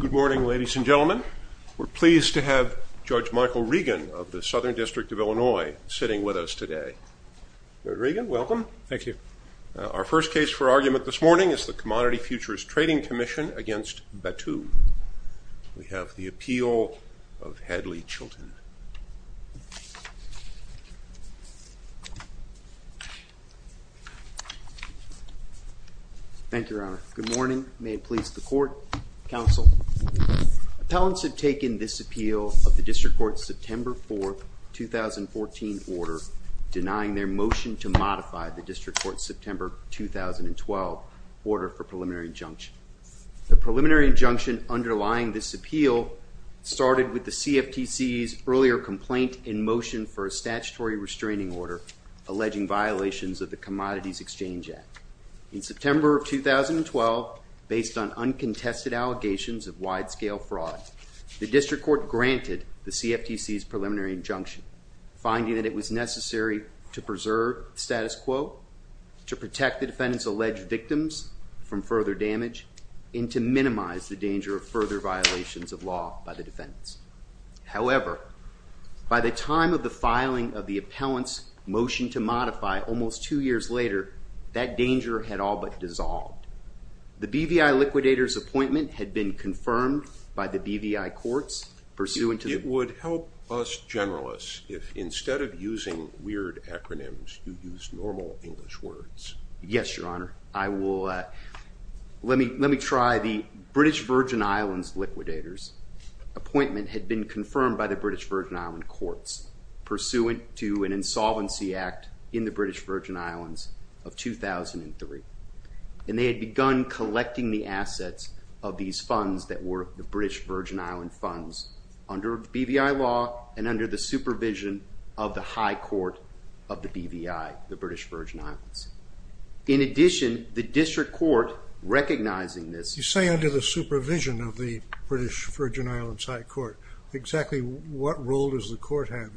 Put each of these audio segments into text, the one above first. Good morning, ladies and gentlemen. We're pleased to have Judge Michael Regan of the Southern District of Illinois sitting with us today. Judge Regan, welcome. Thank you. Our first case for argument this morning is the Commodity Futures Trading Commission v. Battoo. We have the appeal of Hadley Chilton. Thank you, Your Honor. Good morning. May it please the Court, Counsel. Appellants have taken this appeal of the District Court's September 4, 2014 order denying their motion to modify the District Court's September 2012 order for preliminary injunction. The preliminary injunction underlying this appeal started with the CFTC's earlier complaint in motion for a statutory restraining order alleging violations of the Commodities Exchange Act. In September of 2012, based on uncontested allegations of wide-scale fraud, the District Court granted the CFTC's preliminary injunction, finding that it was necessary to preserve the status quo, to protect the defendant's alleged victims from further damage, and to minimize the danger of further violations of law by the defendants. However, by the time of the filing of the appellant's motion to modify almost two years later, that danger had all but dissolved. The BVI liquidator's appointment had been confirmed by the BVI courts pursuant to the- It would help us generalists if, instead of using weird acronyms, you used normal English words. Yes, Your Honor. Let me try. The British Virgin Islands liquidators' appointment had been confirmed by the British Virgin Island courts pursuant to an insolvency act in the British Virgin Islands of 2003. And they had begun collecting the assets of these funds that were the British Virgin Island funds under BVI law and under the supervision of the High Court of the BVI, the British Virgin Islands. In addition, the District Court, recognizing this- You say under the supervision of the British Virgin Islands High Court. Exactly what role does the court have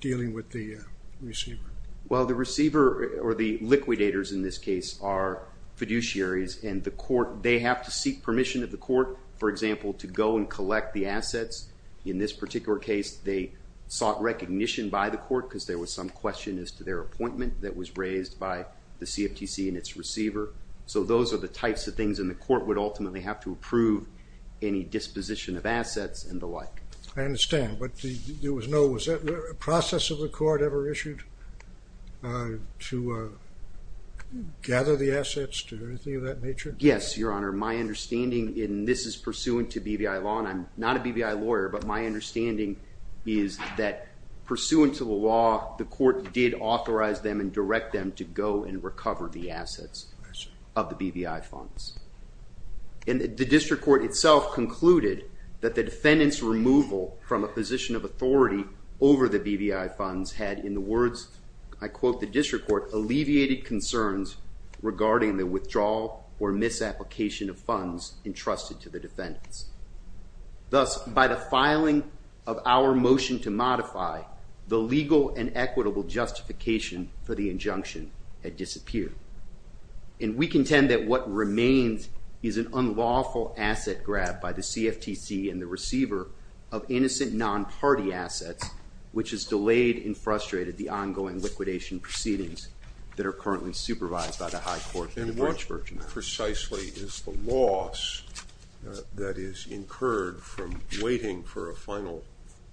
dealing with the receiver? Well, the receiver, or the liquidators in this case, are fiduciaries and the court, they have to seek permission of the court, for example, to go and collect the assets. In this particular case, they sought recognition by the court because there was some question as to their appointment that was raised by the CFTC and its receiver. So those are the types of things, and the court would ultimately have to approve any disposition of assets and the like. I understand, but there was no- Was there a process of the court ever issued to gather the assets or anything of that nature? Yes, Your Honor. My understanding, and this is pursuant to BVI law, and I'm not a BVI lawyer, but my understanding is that, pursuant to the law, the court did authorize them and direct them to go and recover the assets. Yes, Your Honor. Of the BVI funds. And the district court itself concluded that the defendant's removal from a position of authority over the BVI funds had, in the words, I quote, the district court, alleviated concerns regarding the withdrawal or misapplication of funds entrusted to the defendants. Thus, by the filing of our motion to modify, the legal and equitable justification for the injunction had disappeared. And we contend that what remains is an unlawful asset grab by the CFTC and the receiver of innocent non-party assets, which has delayed and frustrated the ongoing liquidation proceedings that are currently supervised by the high court in Branchburg. What precisely is the loss that is incurred from waiting for a final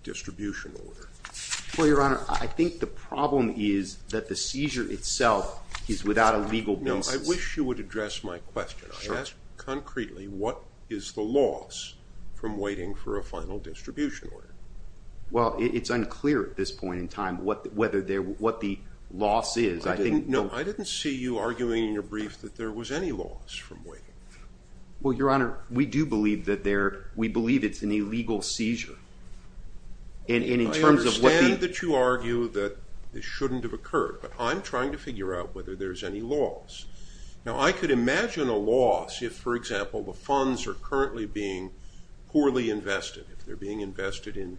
distribution order? Well, Your Honor, I think the problem is that the seizure itself is without a legal basis. No, I wish you would address my question. Sure. I ask concretely, what is the loss from waiting for a final distribution order? Well, it's unclear at this point in time what the loss is. No, I didn't see you arguing in your brief that there was any loss from waiting. Well, Your Honor, we do believe it's an illegal seizure. I understand that you argue that it shouldn't have occurred, but I'm trying to figure out whether there's any loss. Now, I could imagine a loss if, for example, the funds are currently being poorly invested, if they're being invested in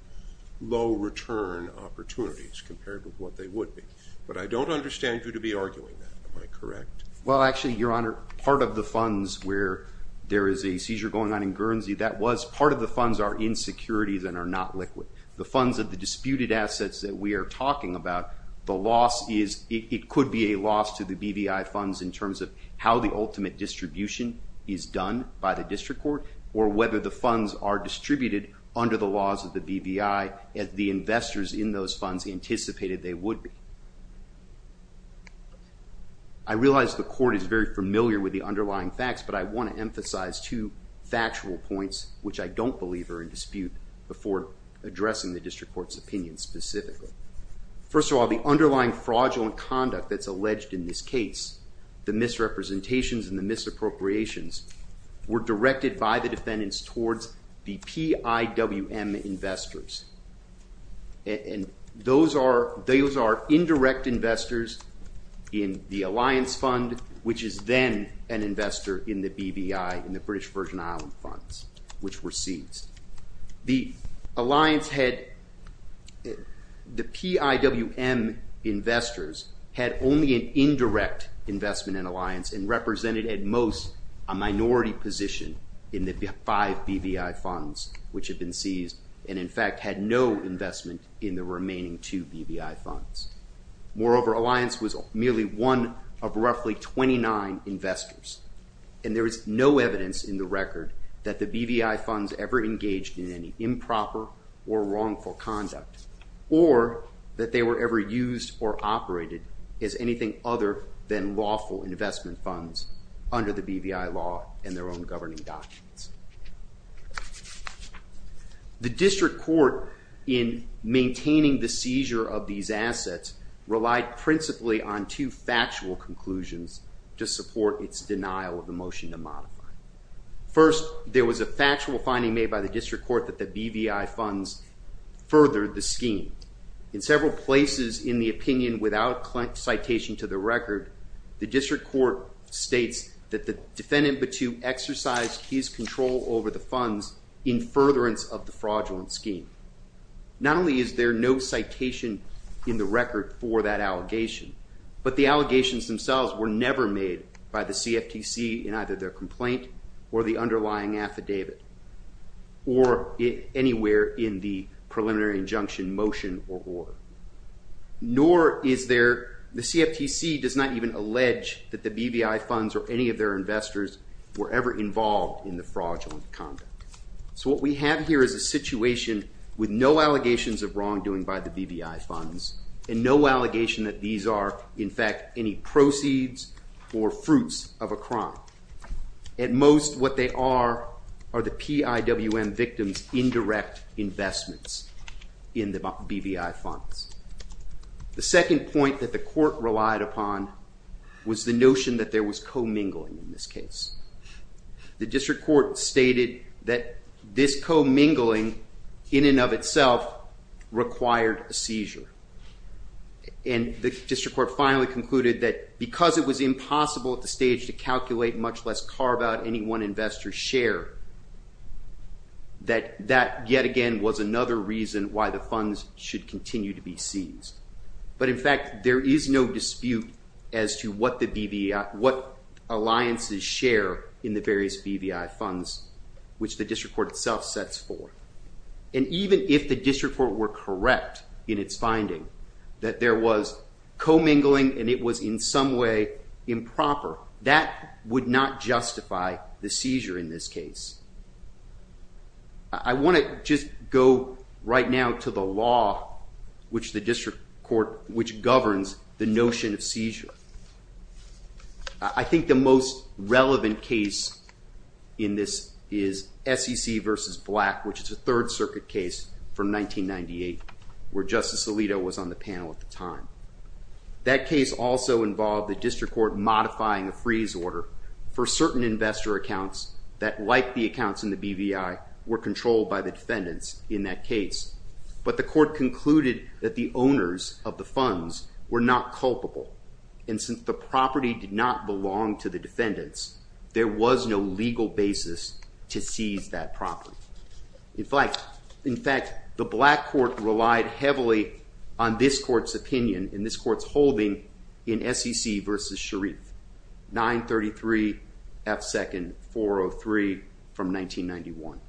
low return opportunities compared to what they would be. But I don't understand you to be arguing that. Am I correct? Well, actually, Your Honor, part of the funds where there is a seizure going on in Guernsey, that was part of the funds are in securities and are not liquid. The funds of the disputed assets that we are talking about, the loss is it could be a loss to the BVI funds in terms of how the ultimate distribution is done by the district court or whether the funds are distributed under the laws of the BVI, as the investors in those funds anticipated they would be. I realize the court is very familiar with the underlying facts, but I want to emphasize two factual points which I don't believe are in dispute before addressing the district court's opinion specifically. First of all, the underlying fraudulent conduct that's alleged in this case, the misrepresentations and the misappropriations were directed by the defendants towards the PIWM investors. And those are indirect investors in the alliance fund, which is then an investor in the BVI, in the British Virgin Islands funds, which were seized. The PIWM investors had only an indirect investment in alliance and represented at most a minority position in the five BVI funds which had been seized and in fact had no investment in the remaining two BVI funds. Moreover, alliance was merely one of roughly 29 investors. And there is no evidence in the record that the BVI funds ever engaged in any improper or wrongful conduct or that they were ever used or operated as anything other than lawful investment funds under the BVI law and their own governing documents. The district court, in maintaining the seizure of these assets, relied principally on two factual conclusions to support its denial of the motion to modify. First, there was a factual finding made by the district court that the BVI funds furthered the scheme. In several places in the opinion without citation to the record, the district court states that the defendant, Batou, exercised his control over the funds in furtherance of the fraudulent scheme. Not only is there no citation in the record for that allegation, but the allegations themselves were never made by the CFTC in either their complaint or the underlying affidavit or anywhere in the preliminary injunction motion or order. Nor is there, the CFTC does not even allege that the BVI funds or any of their investors were ever involved in the fraudulent conduct. So what we have here is a situation with no allegations of wrongdoing by the BVI funds and no allegation that these are, in fact, any proceeds or fruits of a crime. At most, what they are are the PIWM victim's indirect investments in the BVI funds. The second point that the court relied upon was the notion that there was commingling in this case. The district court stated that this commingling, in and of itself, required a seizure. And the district court finally concluded that because it was impossible at the stage to calculate, much less carve out any one investor's share, that that, yet again, was another reason why the funds should continue to be seized. But, in fact, there is no dispute as to what alliances share in the various BVI funds, which the district court itself sets forth. And even if the district court were correct in its finding that there was commingling and it was in some way improper, that would not justify the seizure in this case. I want to just go right now to the law, which the district court, which governs the notion of seizure. I think the most relevant case in this is SEC v. Black, which is a Third Circuit case from 1998, where Justice Alito was on the panel at the time. That case also involved the district court modifying a freeze order for certain investor accounts that, like the accounts in the BVI, were controlled by the defendants in that case. But the court concluded that the owners of the funds were not culpable. And since the property did not belong to the defendants, there was no legal basis to seize that property. In fact, the Black court relied heavily on this court's opinion, and this court's holding in SEC v. Sharif, 933 F. 2nd 403 from 1991.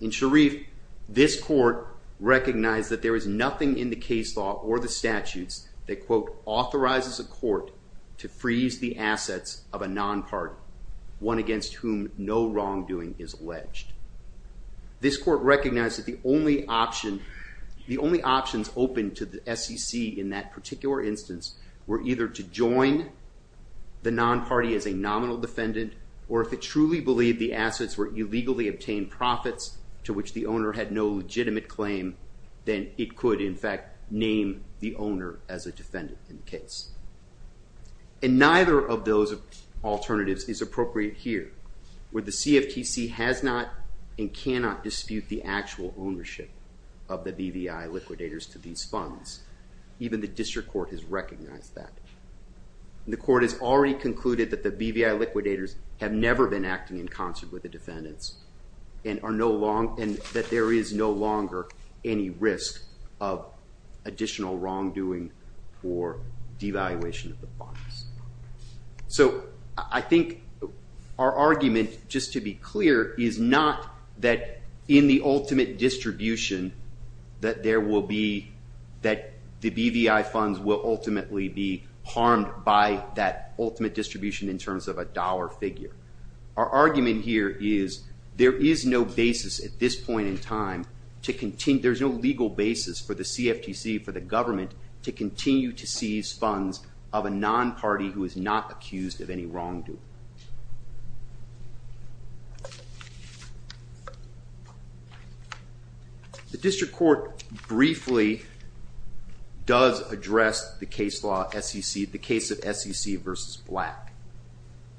In Sharif, this court recognized that there is nothing in the case law or the statutes that, quote, authorizes a court to freeze the assets of a non-partner, one against whom no wrongdoing is alleged. This court recognized that the only options open to the SEC in that particular instance were either to join the non-party as a nominal defendant, or if it truly believed the assets were illegally obtained profits to which the owner had no legitimate claim, then it could, in fact, name the owner as a defendant in the case. And neither of those alternatives is appropriate here, where the CFTC has not and cannot dispute the actual ownership of the BVI liquidators to these funds. Even the district court has recognized that. And the court has already concluded that the BVI liquidators have never been acting in concert with the defendants and that there is no longer any risk of additional wrongdoing for devaluation of the funds. So I think our argument, just to be clear, is not that in the ultimate distribution that there will be, that the BVI funds will ultimately be harmed by that ultimate distribution in terms of a dollar figure. Our argument here is there is no basis at this point in time to continue, there is no legal basis for the CFTC, for the government, to continue to seize funds of a non-party who is not accused of any wrongdoing. The district court briefly does address the case of SEC versus Black.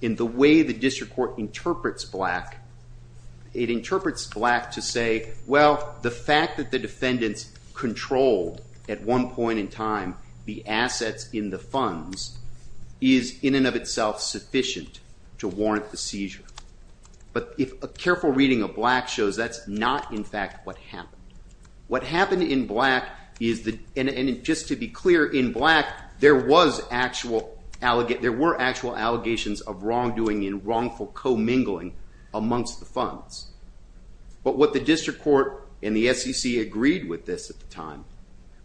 In the way the district court interprets Black, it interprets Black to say, well, the fact that the defendants controlled, at one point in time, the assets in the funds is in and of itself sufficient to warrant the seizure. But if a careful reading of Black shows, that's not in fact what happened. What happened in Black is that, and just to be clear, in Black, there were actual allegations of wrongdoing and wrongful commingling amongst the funds. But what the district court and the SEC agreed with this at the time,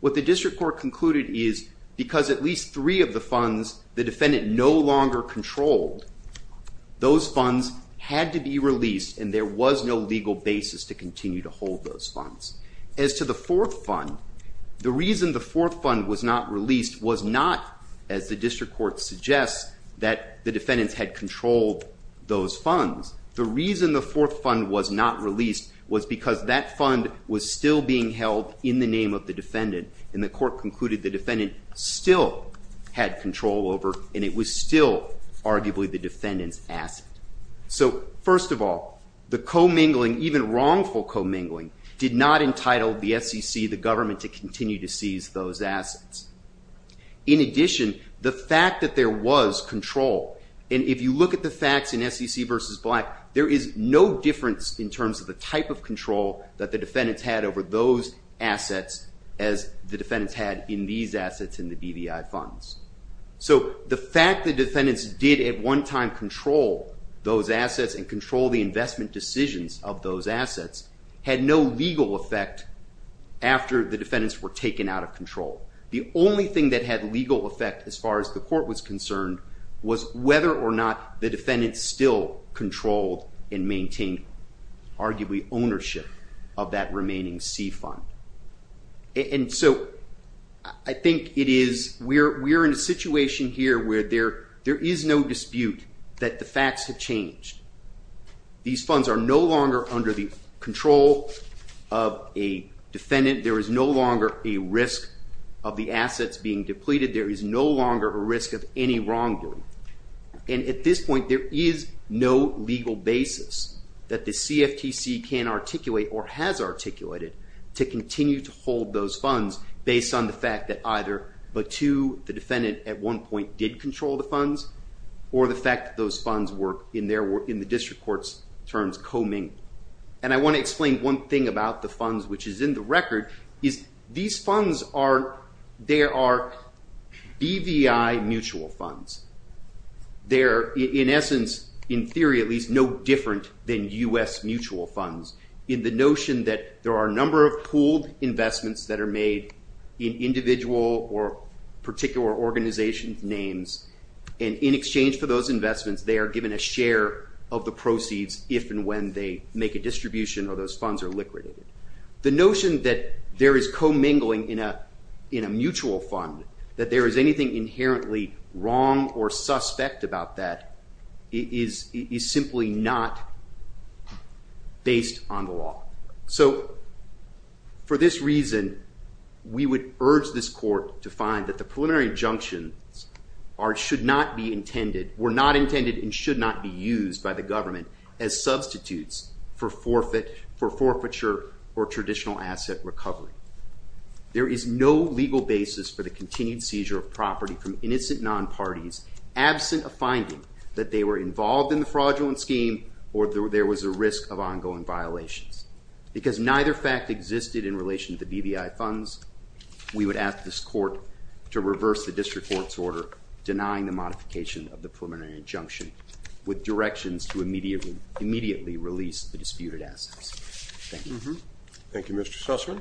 what the district court concluded is because at least three of the funds the defendant no longer controlled, those funds had to be released and there was no legal basis to continue to hold those funds. As to the fourth fund, the reason the fourth fund was not released was not, as the district court suggests, that the defendants had controlled those funds. The reason the fourth fund was not released was because that fund was still being held in the name of the defendant and the court concluded the defendant still had control over and it was still arguably the defendant's asset. So, first of all, the commingling, even wrongful commingling, did not entitle the SEC, the government, to continue to seize those assets. In addition, the fact that there was control, and if you look at the facts in SEC versus Black, there is no difference in terms of the type of control that the defendants had over those assets as the defendants had in these assets in the BVI funds. So, the fact the defendants did at one time control those assets and control the investment decisions of those assets had no legal effect after the defendants were taken out of control. The only thing that had legal effect as far as the court was concerned was whether or not the defendants still controlled and maintained arguably ownership of that remaining C fund. And so, I think we're in a situation here where there is no dispute that the facts have changed. These funds are no longer under the control of a defendant. There is no longer a risk of the assets being depleted. There is no longer a risk of any wrongdoing. And at this point, there is no legal basis that the CFTC can articulate or has articulated to continue to hold those funds based on the fact that either, but two, the defendant at one point did control the funds, or the fact that those funds were in the district court's terms, co-ming. And I want to explain one thing about the funds which is in the record, is these funds are, they are BVI mutual funds. They're in essence, in theory at least, no different than U.S. mutual funds. In the notion that there are a number of pooled investments that are made in individual or particular organization's names, and in exchange for those investments, they are given a share of the proceeds if and when they make a distribution or those funds are liquidated. The notion that there is co-mingling in a mutual fund, that there is anything inherently wrong or suspect about that, is simply not based on the law. So for this reason, we would urge this court to find that the preliminary injunctions should not be intended, were not intended and should not be used by the government as substitutes for forfeiture or traditional asset recovery. There is no legal basis for the continued seizure of property from innocent non-parties absent a finding that they were involved in the fraudulent scheme or there was a risk of ongoing violations. Because neither fact existed in relation to BVI funds, we would ask this court to reverse the district court's order denying the modification of the preliminary injunction with directions to immediately release the disputed assets. Thank you. Thank you, Mr. Sussman.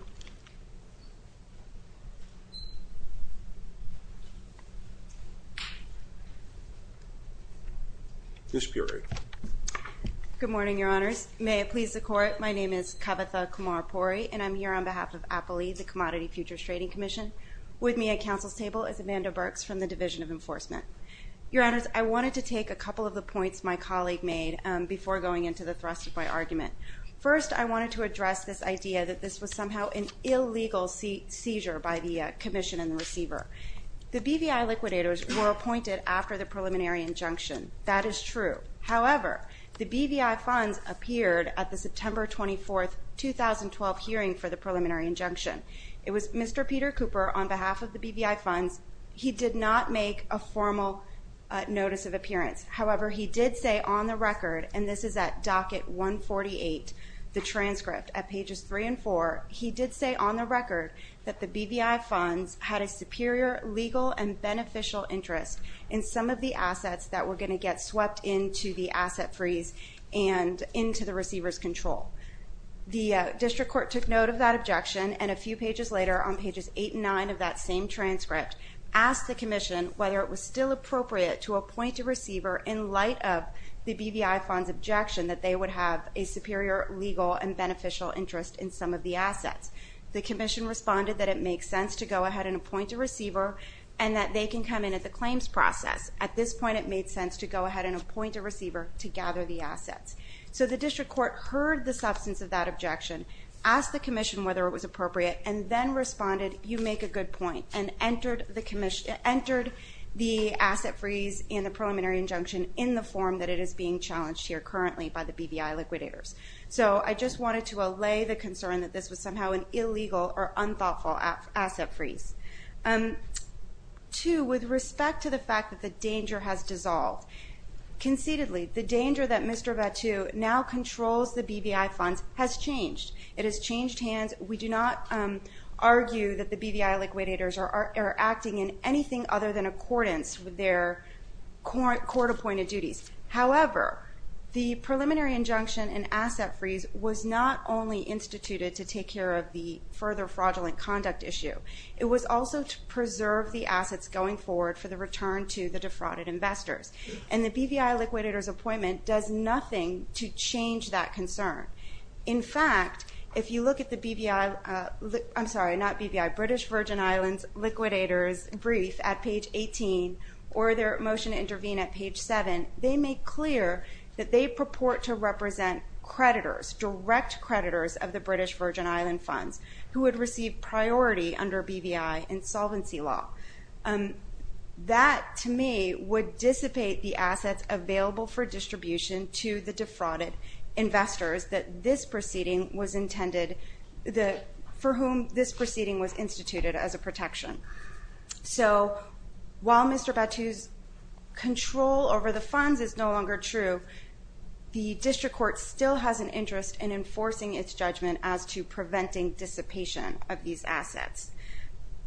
Ms. Puri. Good morning, Your Honors. May it please the Court, my name is Kavitha Kumar-Puri and I'm here on behalf of APALE, the Commodity Futures Trading Commission. With me at counsel's table is Amanda Burks from the Division of Enforcement. Your Honors, I wanted to take a couple of the points my colleague made before going into the thrust of my argument. First, I wanted to address this idea that this was somehow an illegal seizure by the commission and the receiver. The BVI liquidators were appointed after the preliminary injunction. That is true. However, the BVI funds appeared at the September 24, 2012, hearing for the preliminary injunction. It was Mr. Peter Cooper, on behalf of the BVI funds, he did not make a formal notice of appearance. However, he did say on the record, and this is at docket 148, the transcript at pages 3 and 4, he did say on the record that the BVI funds had a superior legal and beneficial interest in some of the assets that were going to get swept into the asset freeze and into the receiver's control. The district court took note of that objection and a few pages later, on pages 8 and 9 of that same transcript, asked the commission whether it was still appropriate to appoint a receiver in light of the BVI funds' objection that they would have a superior legal and beneficial interest in some of the assets. The commission responded that it makes sense to go ahead and appoint a receiver and that they can come in at the claims process. At this point, it made sense to go ahead and appoint a receiver to gather the assets. So the district court heard the substance of that objection, asked the commission whether it was appropriate, and then responded, you make a good point, and entered the asset freeze in the preliminary injunction in the form that it is being challenged here currently by the BVI liquidators. So I just wanted to allay the concern that this was somehow an illegal or unthoughtful asset freeze. Two, with respect to the fact that the danger has dissolved. Conceitedly, the danger that Mr. Battu now controls the BVI funds has changed. It has changed hands. We do not argue that the BVI liquidators are acting in anything other than accordance with their court-appointed duties. However, the preliminary injunction and asset freeze was not only instituted to take care of the further fraudulent conduct issue. It was also to preserve the assets going forward for the return to the defrauded investors. And the BVI liquidators' appointment does nothing to change that concern. In fact, if you look at the BVI, I'm sorry, not BVI, British Virgin Islands liquidators' brief at page 18 or their motion to intervene at page 7, they make clear that they purport to represent creditors, direct creditors of the British Virgin Island funds, who would receive priority under BVI insolvency law. That, to me, would dissipate the assets available for distribution to the defrauded investors for whom this proceeding was instituted as a protection. So while Mr. Battu's control over the funds is no longer true, the district court still has an interest in enforcing its judgment as to preventing dissipation of these assets.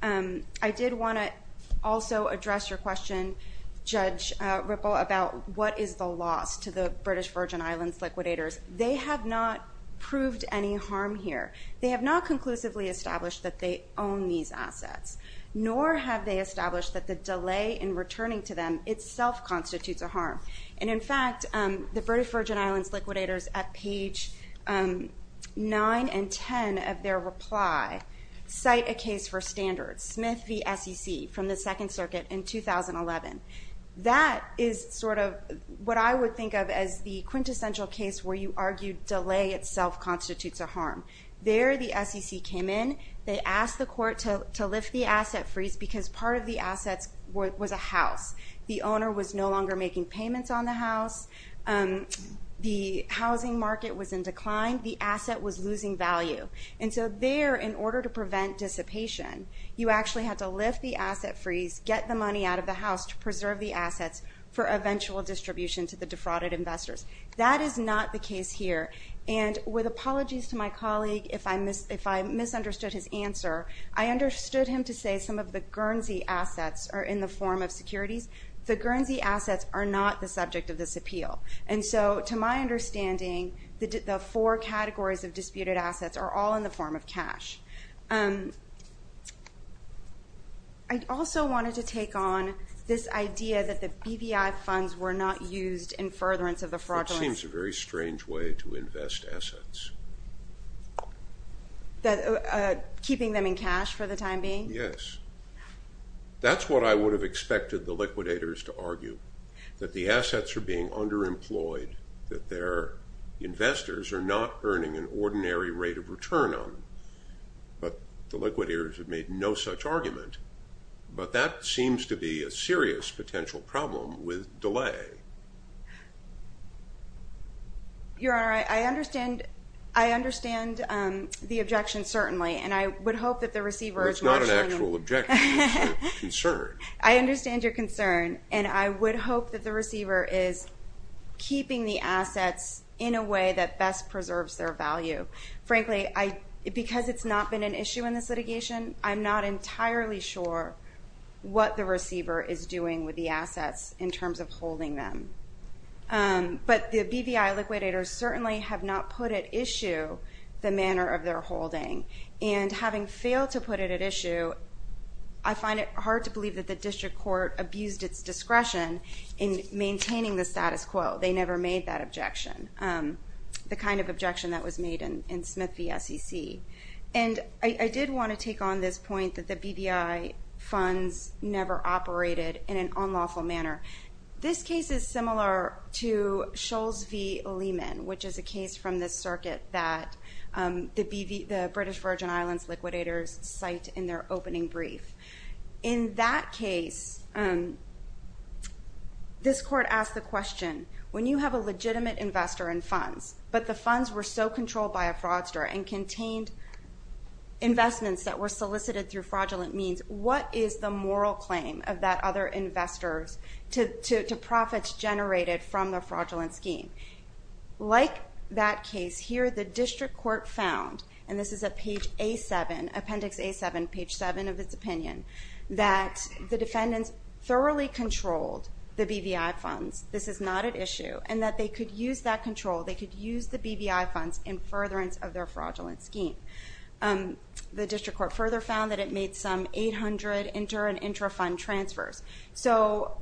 I did want to also address your question, Judge Ripple, about what is the loss to the British Virgin Islands liquidators. They have not proved any harm here. They have not conclusively established that they own these assets, nor have they established that the delay in returning to them itself constitutes a harm. And, in fact, the British Virgin Islands liquidators, at page 9 and 10 of their reply, cite a case for standards, Smith v. SEC, from the Second Circuit in 2011. That is sort of what I would think of as the quintessential case where you argue delay itself constitutes a harm. There the SEC came in. They asked the court to lift the asset freeze because part of the assets was a house. The owner was no longer making payments on the house. The housing market was in decline. The asset was losing value. And so there, in order to prevent dissipation, you actually had to lift the asset freeze, get the money out of the house to preserve the assets for eventual distribution to the defrauded investors. That is not the case here. And with apologies to my colleague, if I misunderstood his answer, I understood him to say some of the Guernsey assets are in the form of securities. The Guernsey assets are not the subject of this appeal. And so, to my understanding, the four categories of disputed assets are all in the form of cash. I also wanted to take on this idea that the BVI funds were not used in furtherance of the fraudulence. It seems a very strange way to invest assets. Keeping them in cash for the time being? Yes. That's what I would have expected the liquidators to argue, that the assets are being underemployed, that their investors are not earning an ordinary rate of return on them. But the liquidators have made no such argument. But that seems to be a serious potential problem with delay. Your Honor, I understand the objection, certainly, and I would hope that the receiver is not showing... It's not an actual objection, it's a concern. I understand your concern, and I would hope that the receiver is keeping the assets in a way that best preserves their value. Frankly, because it's not been an issue in this litigation, I'm not entirely sure what the receiver is doing with the assets in terms of holding them. But the BVI liquidators certainly have not put at issue the manner of their holding. And having failed to put it at issue, I find it hard to believe that the district court abused its discretion in maintaining the status quo. They never made that objection, the kind of objection that was made in Smith v. SEC. And I did want to take on this point that the BVI funds never operated in an unlawful manner. This case is similar to Scholes v. Lehman, which is a case from this circuit that the British Virgin Islands liquidators cite in their opening brief. In that case, this court asked the question, when you have a legitimate investor in funds, but the funds were so controlled by a fraudster and contained investments that were solicited through fraudulent means, what is the moral claim of that other investor to profits generated from the fraudulent scheme? Like that case here, the district court found, and this is a page A7, appendix A7, page 7 of its opinion, that the defendants thoroughly controlled the BVI funds, this is not at issue, and that they could use that control, they could use the BVI funds in furtherance of their fraudulent scheme. The district court further found that it made some 800 inter and intra fund transfers. So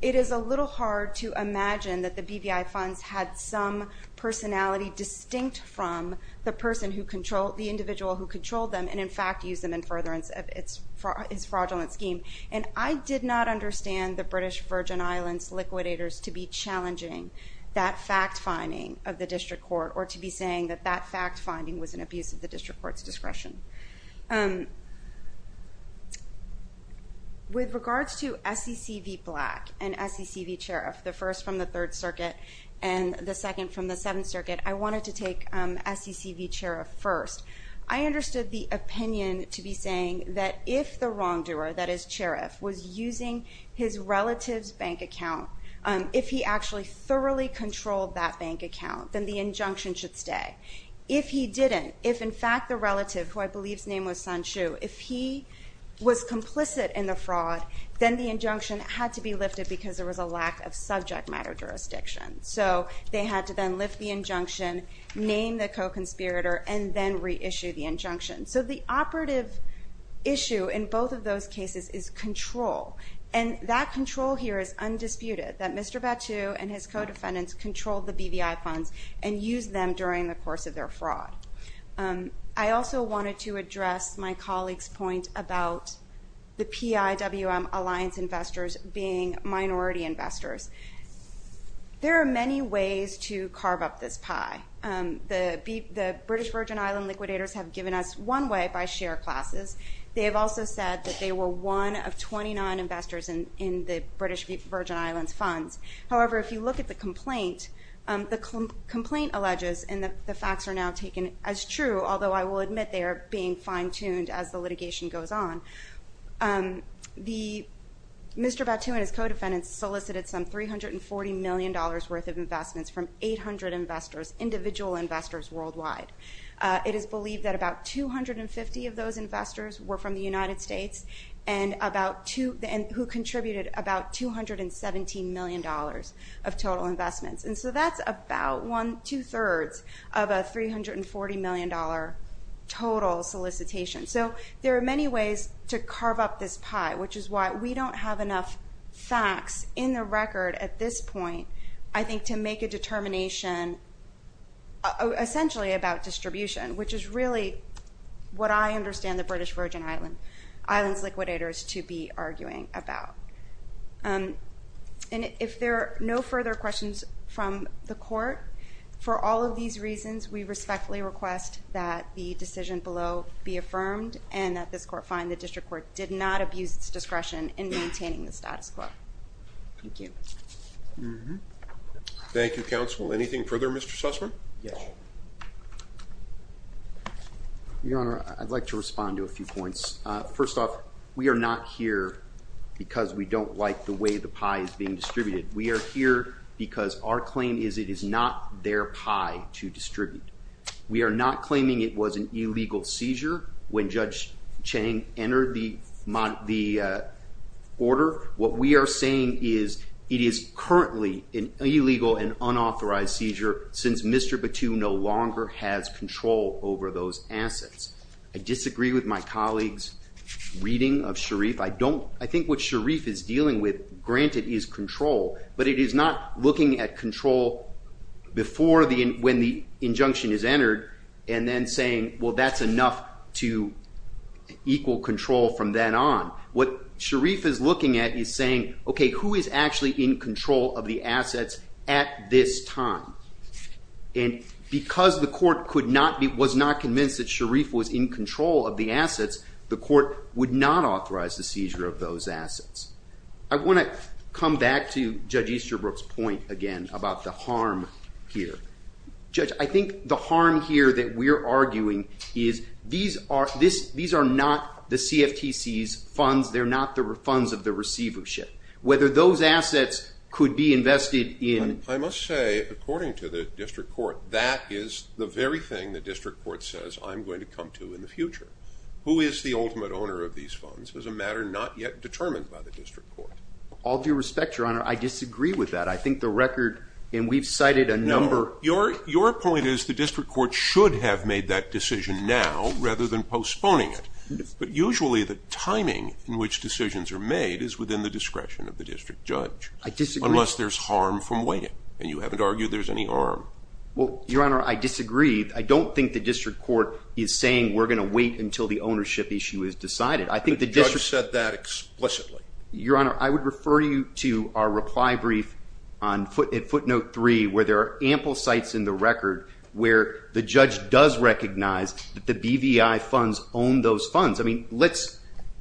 it is a little hard to imagine that the BVI funds had some personality distinct from the individual who controlled them and, in fact, used them in furtherance of his fraudulent scheme. And I did not understand the British Virgin Islands liquidators to be challenging that fact-finding of the district court or to be saying that that fact-finding was an abuse of the district court's discretion. With regards to SCC v. Black and SCC v. Cherif, the first from the Third Circuit and the second from the Seventh Circuit, I wanted to take SCC v. Cherif first. I understood the opinion to be saying that if the wrongdoer, that is Cherif, was using his relative's bank account, if he actually thoroughly controlled that bank account, then the injunction should stay. If he didn't, if, in fact, the relative, who I believe's name was Sun Shu, if he was complicit in the fraud, then the injunction had to be lifted because there was a lack of subject matter jurisdiction. So they had to then lift the injunction, name the co-conspirator, and then reissue the injunction. So the operative issue in both of those cases is control, and that control here is undisputed, that Mr. Battu and his co-defendants controlled the BVI funds and used them during the course of their fraud. I also wanted to address my colleague's point about the PIWM alliance investors being minority investors. There are many ways to carve up this pie. The British Virgin Island liquidators have given us one way by share classes. They have also said that they were one of 29 investors in the British Virgin Islands funds. However, if you look at the complaint, the complaint alleges, and the facts are now taken as true, although I will admit they are being fine-tuned as the litigation goes on, Mr. Battu and his co-defendants solicited some $340 million worth of investments from 800 investors, individual investors worldwide. It is believed that about 250 of those investors were from the United States who contributed about $217 million of total investments. And so that's about two-thirds of a $340 million total solicitation. So there are many ways to carve up this pie, which is why we don't have enough facts in the record at this point, I think, to make a determination essentially about distribution, which is really what I understand the British Virgin Islands liquidators to be arguing about. And if there are no further questions from the Court, for all of these reasons we respectfully request that the decision below be affirmed and that this Court find the District Court did not abuse its discretion in maintaining the status quo. Thank you. Thank you, Counsel. Anything further, Mr. Sussman? Yes. Your Honor, I'd like to respond to a few points. First off, we are not here because we don't like the way the pie is being distributed. We are here because our claim is it is not their pie to distribute. We are not claiming it was an illegal seizure when Judge Chang entered the order. What we are saying is it is currently an illegal and unauthorized seizure since Mr. Batou no longer has control over those assets. I disagree with my colleague's reading of Sharif. I think what Sharif is dealing with, granted, is control, but it is not looking at control before when the injunction is entered and then saying, well, that's enough to equal control from then on. What Sharif is looking at is saying, okay, who is actually in control of the assets at this time? And because the Court was not convinced that Sharif was in control of the assets, the Court would not authorize the seizure of those assets. I want to come back to Judge Easterbrook's point again about the harm here. Judge, I think the harm here that we're arguing is these are not the CFTC's funds. They're not the funds of the receivership. Whether those assets could be invested in – I must say, according to the District Court, that is the very thing the District Court says I'm going to come to in the future. Who is the ultimate owner of these funds is a matter not yet determined by the District Court. All due respect, Your Honor, I disagree with that. I think the record, and we've cited a number – Your point is the District Court should have made that decision now rather than postponing it. But usually the timing in which decisions are made is within the discretion of the District Judge. I disagree. Unless there's harm from waiting, and you haven't argued there's any harm. Well, Your Honor, I disagree. I don't think the District Court is saying we're going to wait until the ownership issue is decided. The Judge said that explicitly. Your Honor, I would refer you to our reply brief at footnote 3 where there are ample sites in the record where the Judge does recognize that the BVI funds own those funds. I mean, let's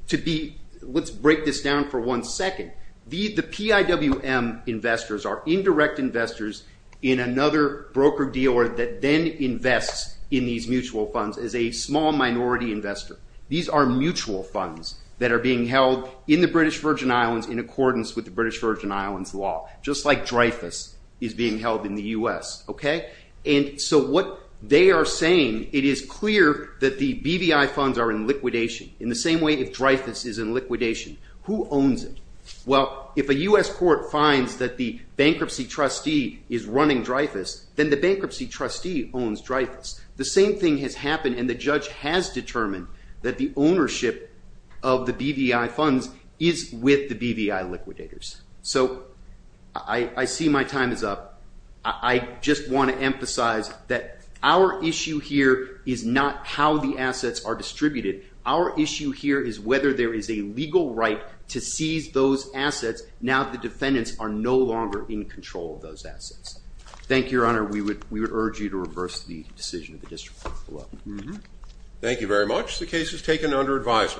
break this down for one second. The PIWM investors are indirect investors in another broker deal that then invests in these mutual funds as a small minority investor. These are mutual funds that are being held in the British Virgin Islands in accordance with the British Virgin Islands law, just like Dreyfus is being held in the U.S., okay? And so what they are saying, it is clear that the BVI funds are in liquidation in the same way if Dreyfus is in liquidation. Who owns it? Well, if a U.S. court finds that the bankruptcy trustee is running Dreyfus, then the bankruptcy trustee owns Dreyfus. The same thing has happened, and the Judge has determined that the ownership of the BVI funds is with the BVI liquidators. So I see my time is up. I just want to emphasize that our issue here is not how the assets are distributed. Our issue here is whether there is a legal right to seize those assets now that the defendants are no longer in control of those assets. Thank you, Your Honor. We would urge you to reverse the decision of the district court. Thank you very much. The case is taken under advisement.